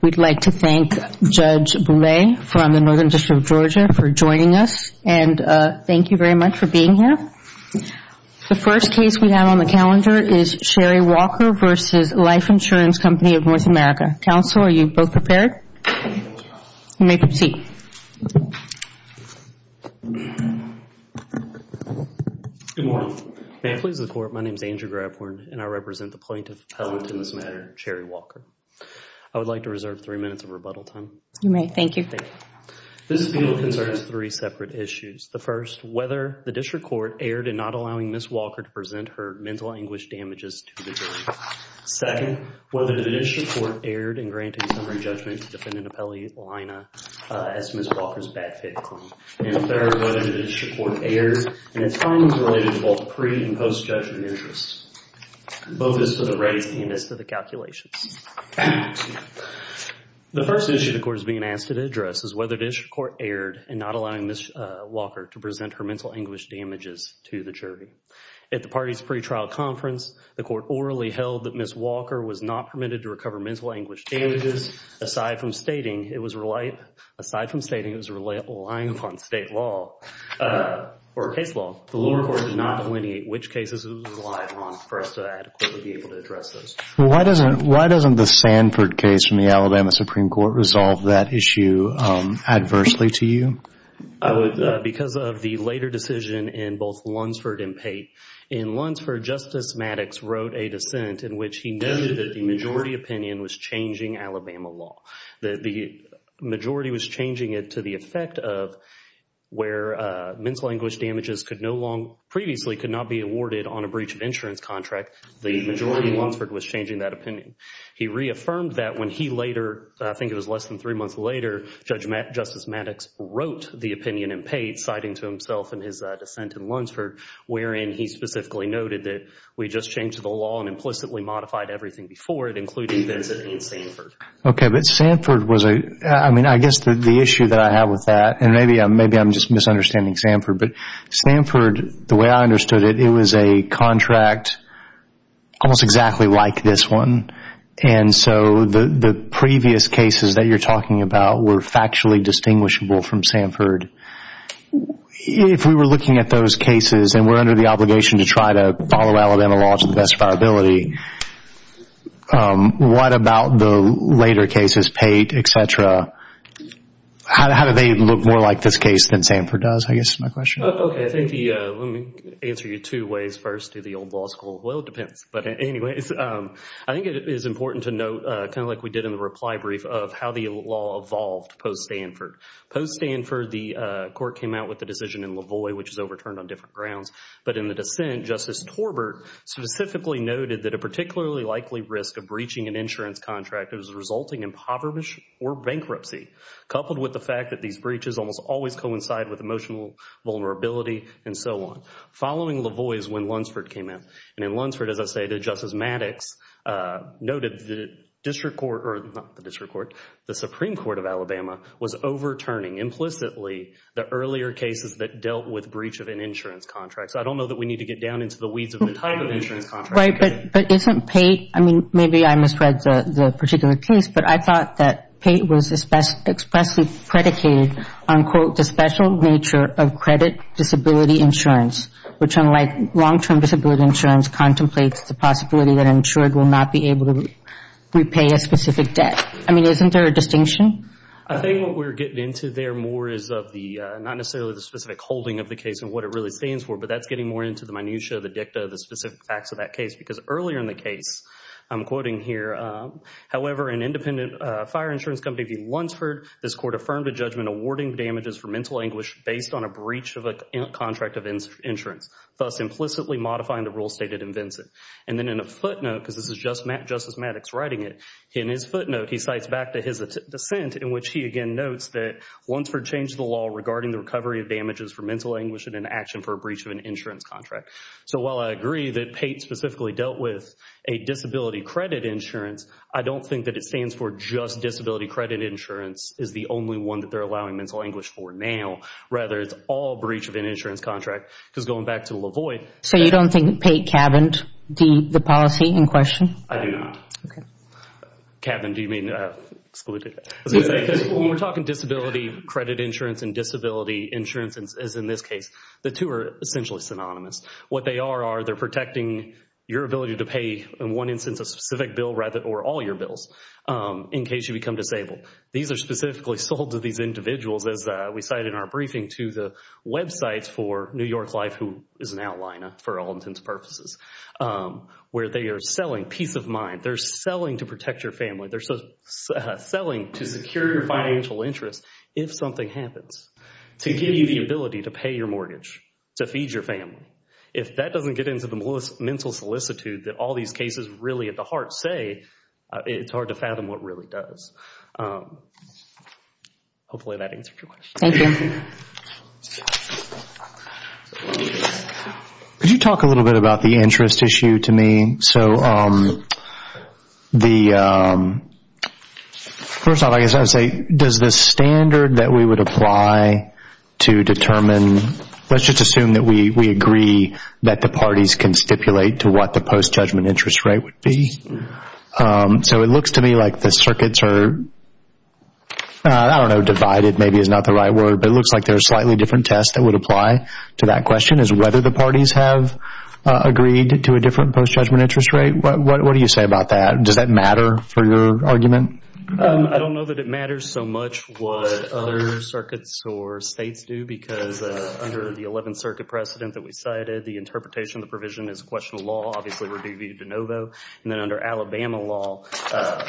We'd like to thank Judge Bouley from the Northern District of Georgia for joining us and thank you very much for being here. The first case we have on the calendar is Sherry Walker v. Life Insurance Company of North America. Counsel, are you both prepared? You may proceed. Good morning. May it please the Court, my name is Andrew Grabhorn and I represent the plaintiff appellant in this matter, Sherry Walker. I would like to reserve three minutes of rebuttal time. You may. Thank you. Thank you. This bill concerns three separate issues. The first, whether the district court erred in not allowing Ms. Walker to present her mental anguish damages to the jury. Second, whether the district court erred in granting summary judgment to defendant Appellee Lina as Ms. Walker's back-fit claim. And third, whether the district court erred in its findings related to both pre- and post-judgment interest, both as to the rates and as to the calculations. The first issue the Court is being asked to address is whether the district court erred in not allowing Ms. Walker to present her mental anguish damages to the jury. At the party's pre-trial conference, the Court orally held that Ms. Walker was not permitted to recover mental anguish damages aside from stating it was relying upon state law or case law. The lower court did not delineate which cases it was relying on for us to adequately be able to address those. Well, why doesn't the Sanford case from the Alabama Supreme Court resolve that issue adversely to you? I would, because of the later decision in both Lunsford and Pate. In Lunsford, Justice Maddox wrote a dissent in which he noted that the majority opinion was changing Alabama law. The majority was changing it to the effect of where mental anguish damages could no longer previously could not be awarded on a breach of insurance contract. The majority in Lunsford was changing that opinion. He reaffirmed that when he later, I think it was less than three months later, Justice Maddox wrote the opinion in Pate, citing to himself in his dissent in Lunsford, wherein he specifically noted that we just changed the law and implicitly modified everything before it, including the dissent in Sanford. Okay, but Sanford was a, I guess the issue that I have with that, and maybe I'm just misunderstanding Sanford, but Sanford, the way I understood it, it was a contract almost exactly like this one, and so the previous cases that you're talking about were factually distinguishable from Sanford. If we were looking at those cases and we're under the obligation to try to follow Alabama law to the best of our ability, what about the later cases, Pate, et cetera, how do they look more like this case than Sanford does, I guess is my question. Okay, I think the, let me answer you two ways first, through the old law school. Well, it depends, but anyways, I think it is important to note, kind of like we did in the reply brief, of how the law evolved post-Sanford. Post-Sanford, the court came out with the decision in LaVoy, which is overturned on specifically noted that a particularly likely risk of breaching an insurance contract is resulting in impoverishment or bankruptcy, coupled with the fact that these breaches almost always coincide with emotional vulnerability, and so on. Following LaVoy is when Lunsford came out, and in Lunsford, as I stated, Justice Maddox noted the district court, or not the district court, the Supreme Court of Alabama was overturning implicitly the earlier cases that dealt with breach of an insurance contract, so I don't know that we need to get down into the weeds of the type of insurance contract. Right, but isn't Pate, I mean, maybe I misread the particular case, but I thought that Pate was expressly predicated on, quote, the special nature of credit disability insurance, which unlike long-term disability insurance contemplates the possibility that an insured will not be able to repay a specific debt. I mean, isn't there a distinction? I think what we're getting into there more is of the, not necessarily the specific holding of the case and what it really stands for, but that's getting more into the minutiae of the dicta of the specific facts of that case, because earlier in the case, I'm quoting here, however, an independent fire insurance company, the Lunsford, this court affirmed a judgment awarding damages for mental anguish based on a breach of a contract of insurance, thus implicitly modifying the rule stated in Vincent. And then in a footnote, because this is just Justice Maddox writing it, in his footnote, he cites back to his dissent in which he again notes that Lunsford changed the law regarding the recovery of damages for mental anguish in an action for a breach of an insurance contract. So while I agree that Pate specifically dealt with a disability credit insurance, I don't think that it stands for just disability credit insurance is the only one that they're allowing mental anguish for now, rather it's all breach of an insurance contract, because going back to Lavoie. So you don't think Pate cabined the policy in question? I do not. Okay. Cabined, do you mean excluded? When we're talking disability credit insurance and disability insurance as in this case, the two are essentially synonymous. What they are, are they're protecting your ability to pay in one instance a specific bill rather or all your bills in case you become disabled. These are specifically sold to these individuals as we cited in our briefing to the websites for New York Life, who is an outliner for all intents and purposes, where they are selling a peace of mind. They're selling to protect your family. They're selling to secure your financial interest if something happens, to give you the ability to pay your mortgage, to feed your family. If that doesn't get into the mental solicitude that all these cases really at the heart say, it's hard to fathom what really does. Hopefully that answers your question. Thank you. Could you talk a little bit about the interest issue to me? First off, I guess I would say, does the standard that we would apply to determine, let's just assume that we agree that the parties can stipulate to what the post-judgment interest rate would be. It looks to me like the circuits are, I don't know, divided maybe is not the right word, but it looks like there are slightly different tests that would apply to that question is whether the parties have agreed to a different post-judgment interest rate. What do you say about that? Does that matter for your argument? I don't know that it matters so much what other circuits or states do because under the 11th Circuit precedent that we cited, the interpretation of the provision is a question of law. Obviously, we're deviating to no vote. Then under Alabama law,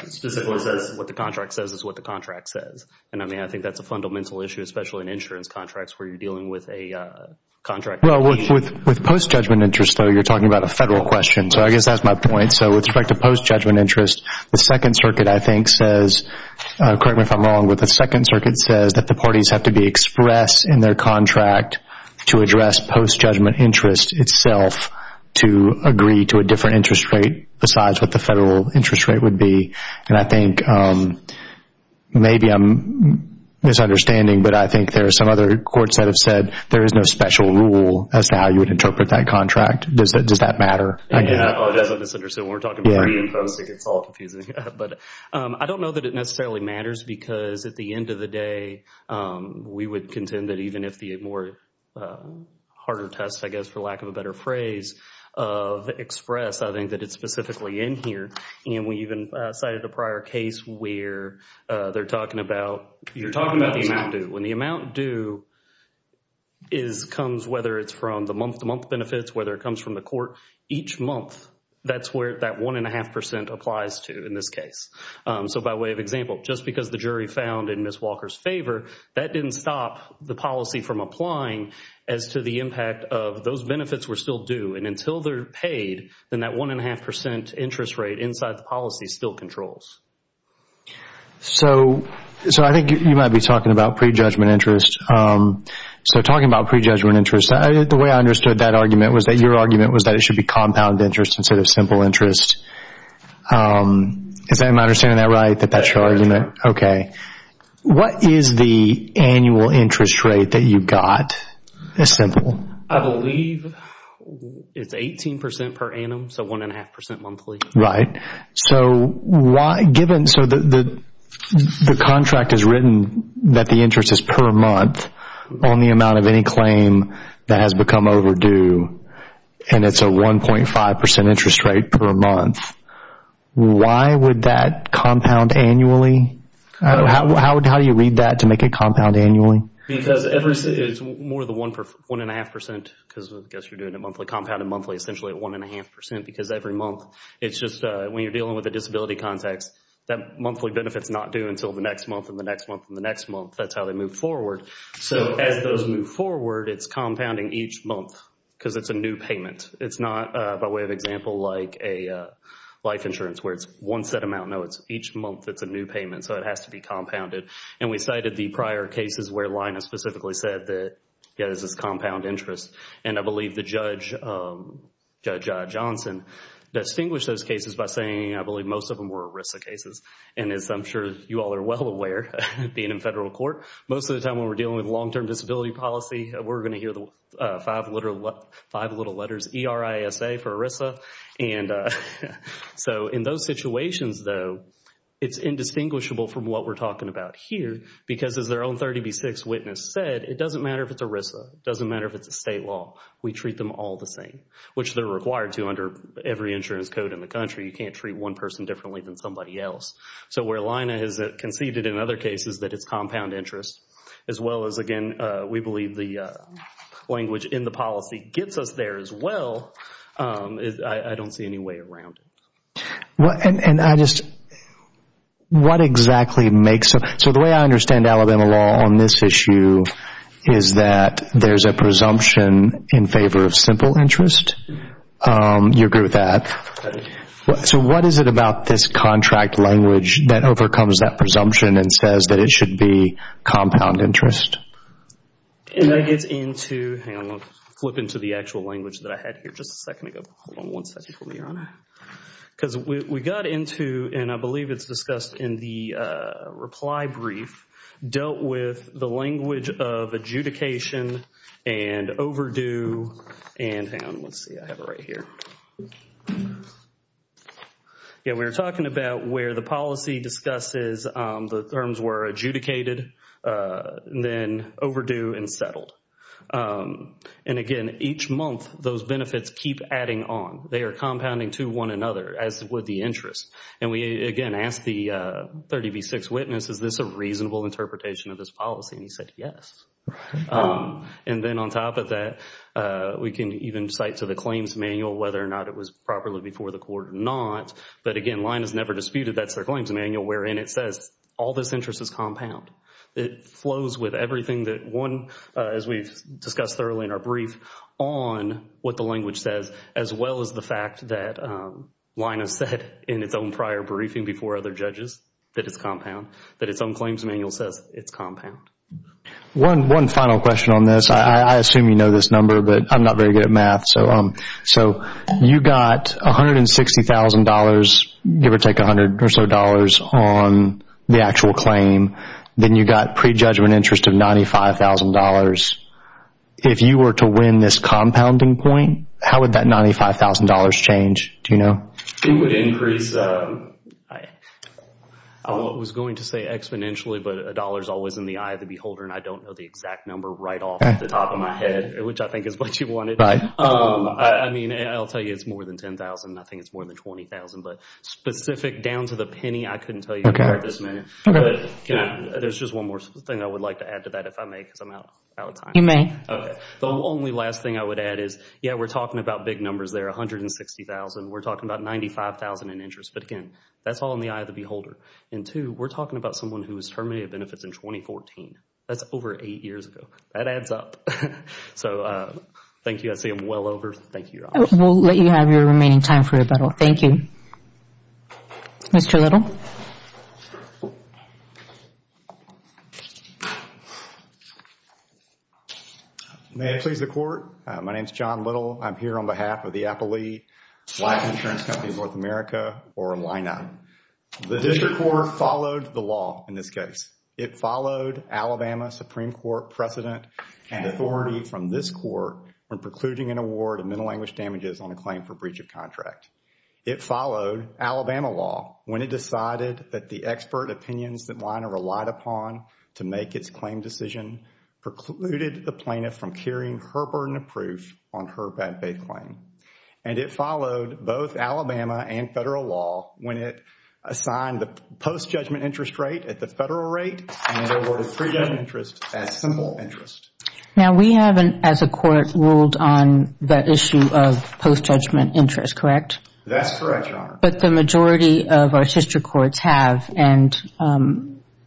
specifically says what the contract says is what the contract says. I think that's a fundamental issue, especially in insurance contracts where you're dealing with a contract. Well, with post-judgment interest though, you're talking about a federal question, so I guess that's my point. With respect to post-judgment interest, the 2nd Circuit I think says, correct me if I'm wrong, but the 2nd Circuit says that the parties have to be expressed in their contract to address post-judgment interest itself to agree to a different interest rate besides what the federal interest rate would be. I think maybe I'm misunderstanding, but I think there are some other courts that have said there is no special rule as to how you would interpret that contract. Does that matter? I apologize if I misunderstood. We're talking pre and post. It gets all confusing. I don't know that it necessarily matters because at the end of the day, we would contend that even if the more harder test, I guess for lack of a better phrase, of express, I think that it's specifically in here. We even cited a prior case where they're talking about, you're talking about the amount due. It comes whether it's from the month-to-month benefits, whether it comes from the court. Each month, that's where that 1.5% applies to in this case. By way of example, just because the jury found in Ms. Walker's favor, that didn't stop the policy from applying as to the impact of those benefits were still due. Until they're paid, then that 1.5% interest rate inside the policy still controls. I think you might be talking about pre-judgment interest. Talking about pre-judgment interest, the way I understood that argument was that your argument was that it should be compound interest instead of simple interest. Am I understanding that right, that that's your argument? Yes. Okay. What is the annual interest rate that you got, as simple? I believe it's 18% per annum, so 1.5% monthly. Right. The contract has written that the interest is per month on the amount of any claim that has become overdue, and it's a 1.5% interest rate per month. Why would that compound annually? How do you read that to make it compound annually? Because it's more than 1.5% because I guess you're doing it monthly, compounded monthly essentially at 1.5% because every month, it's just when you're dealing with a disability context, that monthly benefit's not due until the next month and the next month and the next month. That's how they move forward. As those move forward, it's compounding each month because it's a new payment. It's not, by way of example, like a life insurance where it's one set amount. No, it's each month, it's a new payment, so it has to be compounded. We cited the prior cases where Linus specifically said that, yeah, this is compound interest. I believe the judge, Judge Johnson, distinguished those cases by saying, I believe most of them were ERISA cases. As I'm sure you all are well aware, being in federal court, most of the time when we're dealing with long-term disability policy, we're going to hear the five little letters, E-R-I-S-A for ERISA. In those situations, though, it's indistinguishable from what we're talking about here because as their own 30B6 witness said, it doesn't matter if it's ERISA. It doesn't matter if it's a state law. We treat them all the same, which they're required to under every insurance code in the country. You can't treat one person differently than somebody else. So where Lina has conceded in other cases that it's compound interest as well as, again, we believe the language in the policy gets us there as well, I don't see any way around it. And I just, what exactly makes it, so the way I understand Alabama law on this issue is that there's a presumption in favor of simple interest. You agree with that? So what is it about this contract language that overcomes that presumption and says that it should be compound interest? And that gets into, hang on, flip into the actual language that I had here just a second ago. Hold on one second for me, Your Honor. Because we got into, and I believe it's discussed in the reply brief, dealt with the language of adjudication and overdue and hang on, let's see, I have it right here. Yeah, we were talking about where the policy discusses the terms were adjudicated, then overdue and settled. And again, each month those benefits keep adding on. They are compounding to one another as would the interest. And we again ask the 30 v. 6 witness, is this a reasonable interpretation of this policy? And he said yes. And then on top of that, we can even cite to the claims manual whether or not it was properly before the court or not. But again, line is never disputed, that's their claims manual wherein it says all this interest is compound. It flows with everything that one, as we've discussed thoroughly in our brief, on what the language says as well as the fact that line has said in its own prior briefing before other judges that it's compound, that its own claims manual says it's compound. One final question on this. I assume you know this number, but I'm not very good at math. So you got $160,000, give or take $100 or so on the actual claim. Then you got prejudgment interest of $95,000. If you were to win this compounding point, how would that $95,000 change? Do you know? It would increase, I was going to say exponentially, but a dollar is always in the eye of the beholder and I don't know the exact number right off the top of my head, which I think is what you wanted. I mean, I'll tell you it's more than $10,000 and I think it's more than $20,000. But specific down to the penny, I couldn't tell you at this minute. There's just one more thing I would like to add to that if I may because I'm out of time. You may. The only last thing I would add is, yeah, we're talking about big numbers there, $160,000. We're talking about $95,000 in interest. But again, that's all in the eye of the beholder. And two, we're talking about someone who was terminated of benefits in 2014. That's over eight years ago. That adds up. So thank you. I see I'm well over. Thank you, Your Honor. We'll let you have your remaining time for rebuttal. Thank you. Mr. Little. May I please the Court? My name is John Little. I'm here on behalf of the Appley Life Insurance Company of North America, or LINA. The District Court followed the law in this case. It followed Alabama Supreme Court precedent and authority from this Court when precluding an award of mental language damages on a claim for breach of contract. It followed Alabama law when it decided that the expert opinions that LINA relied upon to make its claim decision precluded the plaintiff from carrying her burden of proof on her bad faith claim. And it followed both Alabama and federal law when it assigned the post-judgment interest rate at the federal rate and awarded pre-judgment interest as simple interest. Now, we have, as a Court, ruled on the issue of post-judgment interest, correct? That's correct, Your Honor. But the majority of our District Courts have, and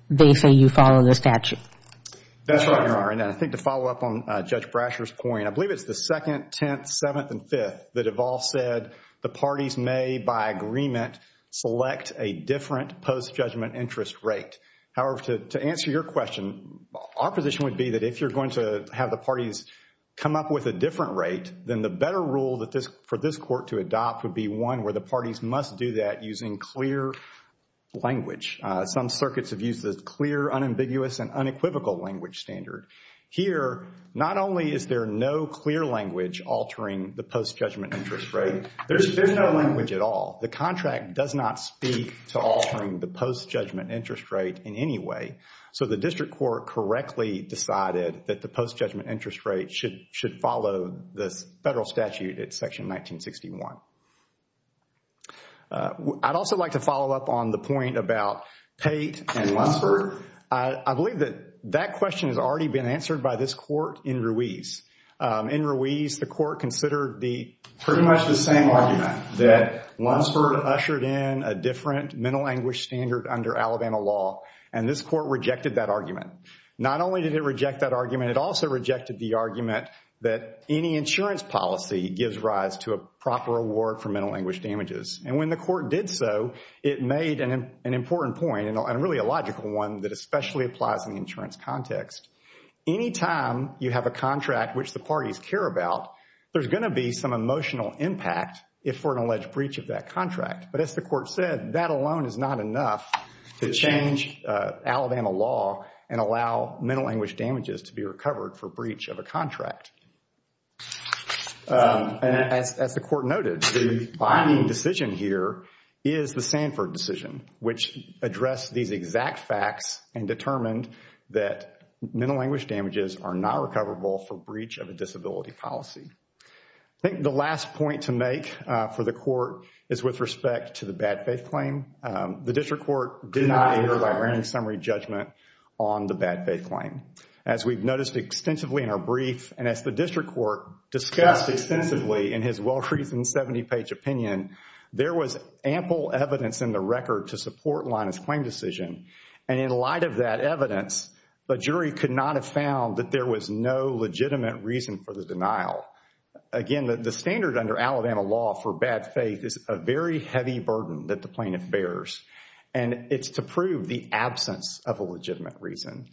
they say you follow the statute. That's right, Your Honor. And I think to follow up on Judge Brasher's point, I believe it's the second, tenth, seventh, and fifth that have all said the parties may, by agreement, select a different post-judgment interest rate. However, to answer your question, our position would be that if you're going to have the parties come up with a different rate, then the better rule for this Court to adopt would be one where the parties must do that using clear language. Some circuits have used the clear, unambiguous, and unequivocal language standard. Here, not only is there no clear language altering the post-judgment interest rate, there's no language at all. The contract does not speak to altering the post-judgment interest rate in any way. So the District Court correctly decided that the post-judgment interest rate should follow this Federal statute at Section 1961. I'd also like to follow up on the point about Pate and Lunsford. I believe that that question has already been answered by this Court in Ruiz. In Ruiz, the Court considered pretty much the same argument that Lunsford ushered in a different mental anguish standard under Alabama law, and this Court rejected that argument. Not only did it reject that argument, it also rejected the argument that any insurance policy gives rise to a proper award for mental anguish damages. And when the Court did so, it made an important point, and really a logical one, that especially applies in the insurance context. Anytime you have a contract which the parties care about, there's going to be some emotional impact if for an alleged breach of that contract. But as the Court said, that alone is not enough to change Alabama law and allow mental anguish damages to be recovered for breach of a contract. As the Court noted, the binding decision here is the Sanford decision, which addressed these exact facts and determined that mental anguish damages are not recoverable for breach of a disability policy. I think the last point to make for the Court is with respect to the bad faith claim. The District Court did not hear a library summary judgment on the bad faith claim. As we've noticed extensively in our brief, and as the District Court discussed extensively in his well-reasoned 70-page opinion, there was ample evidence in the record to support Linus' claim decision, and in light of that evidence, the jury could not have found that there was no legitimate reason for the denial. Again, the standard under Alabama law for bad faith is a very heavy burden that the plaintiff bears, and it's to prove the absence of a legitimate reason.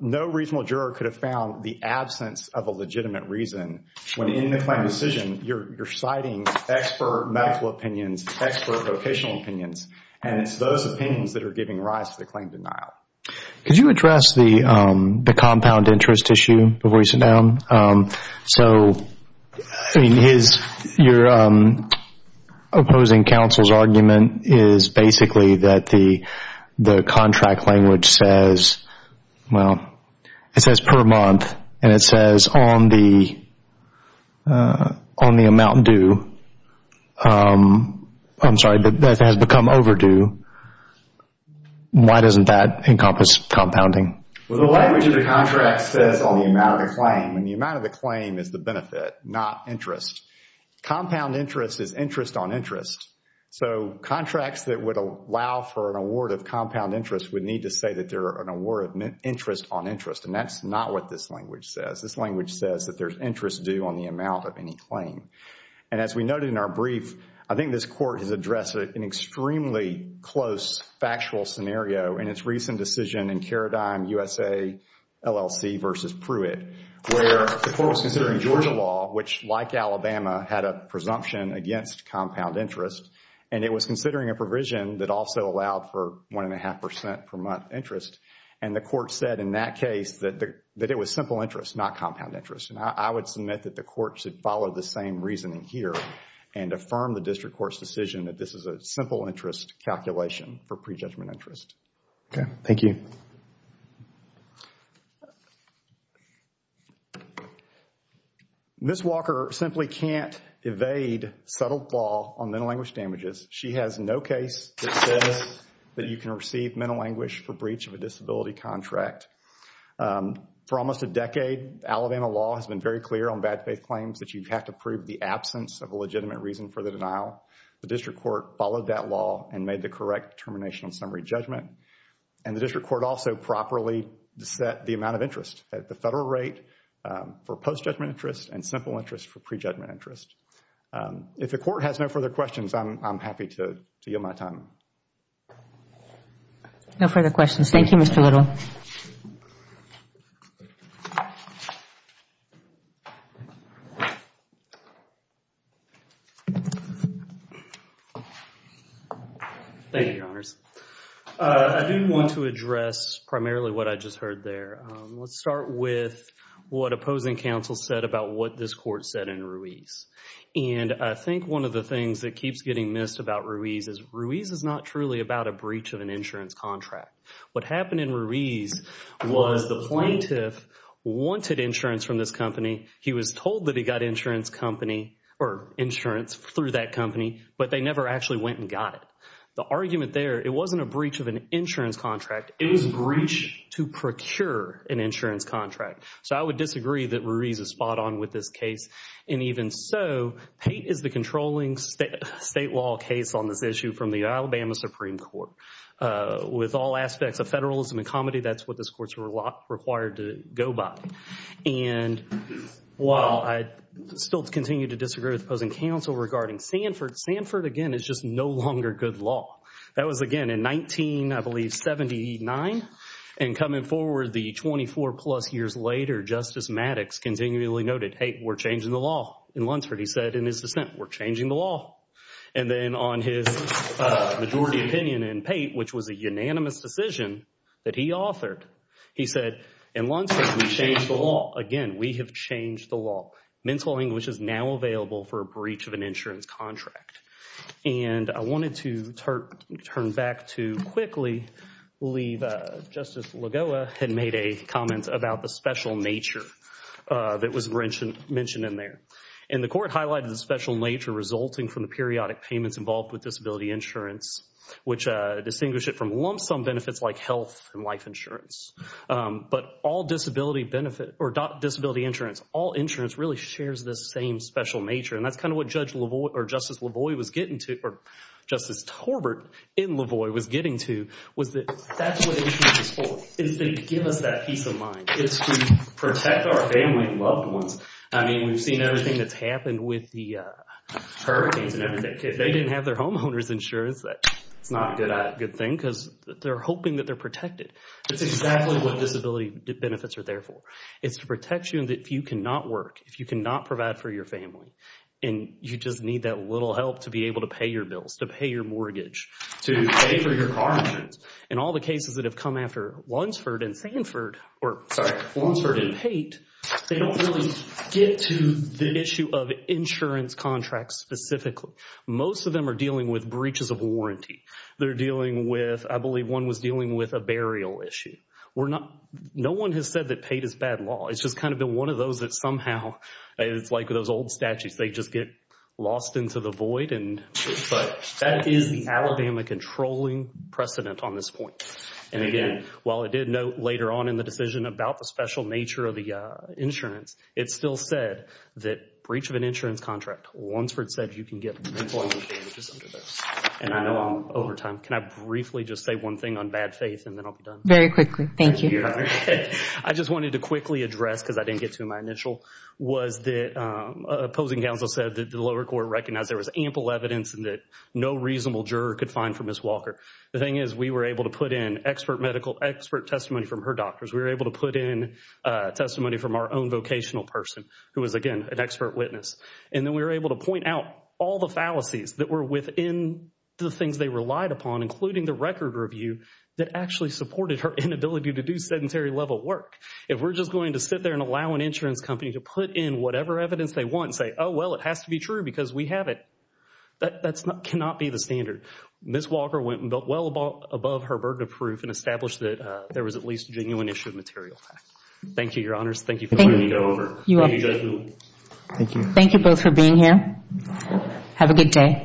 No reasonable juror could have found the absence of a legitimate reason when in the claim decision, you're citing expert medical opinions, expert vocational opinions, and it's those opinions that are giving rise to the claim denial. Could you address the compound interest issue before you sit down? So your opposing counsel's argument is basically that the contract language says, well, it says per month, and it says on the amount due, I'm sorry, that has become overdue. Why doesn't that encompass compounding? Well, the language of the contract says on the amount of the claim, and the amount of the claim is the benefit, not interest. Compound interest is interest on interest. So contracts that would allow for an award of compound interest would need to say that they're an award of interest on interest, and that's not what this language says. This language says that there's interest due on the amount of any claim. And as we noted in our brief, I think this court has addressed an extremely close factual scenario in its recent decision in Karadime USA LLC v. Pruitt, where the court was considering Georgia law, which like Alabama, had a presumption against compound interest, and it was considering a provision that also allowed for 1.5% per month interest, and the court said in that case that it was simple interest, not compound interest. And I would submit that the court should follow the same reasoning here and affirm the district court's decision that this is a simple interest calculation for prejudgment interest. Okay. Thank you. Thank you. Ms. Walker simply can't evade settled law on mental language damages. She has no case that says that you can receive mental language for breach of a disability contract. For almost a decade, Alabama law has been very clear on bad faith claims that you have to prove the absence of a legitimate reason for the denial. The district court followed that law and made the correct termination summary judgment, and the district court also properly set the amount of interest at the federal rate for post-judgment interest and simple interest for prejudgment interest. If the court has no further questions, I'm happy to yield my time. No further questions. Thank you, Mr. Little. Thank you, Your Honors. I do want to address primarily what I just heard there. Let's start with what opposing counsel said about what this court said in Ruiz. And I think one of the things that keeps getting missed about Ruiz is Ruiz is not truly about a breach of an insurance contract. What happened in Ruiz was the plaintiff wanted insurance from this company. He was told that he got insurance company or insurance through that company, but they never actually went and got it. The argument there, it wasn't a breach of an insurance contract. It was a breach to procure an insurance contract. So I would disagree that Ruiz is spot on with this case. And even so, Pate is the controlling state law case on this issue from the Alabama Supreme Court. With all aspects of federalism and comedy, that's what this court is required to go by. And while I still continue to disagree with opposing counsel regarding Sanford, Sanford, again, is just no longer good law. That was, again, in 19, I believe, 79. And coming forward the 24-plus years later, Justice Maddox continually noted, hey, we're changing the law in Lunceford. He said in his dissent, we're changing the law. And then on his majority opinion in Pate, which was a unanimous decision that he authored, he said in Lunceford, we changed the law. Again, we have changed the law. Mental English is now available for a breach of an insurance contract. And I wanted to turn back to quickly leave Justice Lagoa had made a comment about the special nature that was mentioned in there. And the court highlighted the special nature resulting from the periodic payments involved with disability insurance, which distinguish it from lump sum benefits like health and life insurance. But all disability benefit or disability insurance, all insurance really shares the same special nature. And that's kind of what Judge Lavoie or Justice Lavoie was getting to, or Justice Torbert in Lavoie was getting to, was that that's what insurance is for, is to give us that peace of mind, is to protect our family and loved ones. I mean, we've seen everything that's happened with the hurricanes and everything. If they didn't have their homeowner's insurance, that's not a good thing because they're hoping that they're protected. That's exactly what disability benefits are there for. It's to protect you and if you cannot work, if you cannot provide for your family, and you just need that little help to be able to pay your bills, to pay your mortgage, to pay for your car insurance. In all the cases that have come after Lunsford and Sanford, or sorry, Lunsford and Pate, they don't really get to the issue of insurance contracts specifically. Most of them are dealing with breaches of warranty. They're dealing with, I believe one was dealing with a burial issue. No one has said that Pate is bad law. It's just kind of been one of those that somehow, it's like those old statutes, they just get lost into the void. But that is the Alabama controlling precedent on this point. And again, while I did note later on in the decision about the special nature of the insurance, it still said that breach of an insurance contract, Lunsford said you can get employment damages under those. And I know I'm over time. Can I briefly just say one thing on bad faith and then I'll be done? Very quickly. Thank you. I just wanted to quickly address because I didn't get to my initial, was that opposing counsel said that the lower court recognized there was ample evidence and that no reasonable juror could find for Ms. Walker. The thing is we were able to put in expert medical, expert testimony from her doctors. We were able to put in testimony from our own vocational person who was, again, an expert witness. And then we were able to point out all the fallacies that were within the things they relied upon, including the record review that actually supported her inability to do sedentary level work. If we're just going to sit there and allow an insurance company to put in whatever evidence they want and say, oh, well, it has to be true because we have it. That cannot be the standard. Ms. Walker went well above her burden of proof and established that there was at least a genuine issue of material fact. Thank you, Your Honors. Thank you for bringing it over. Thank you both for being here. Have a good day.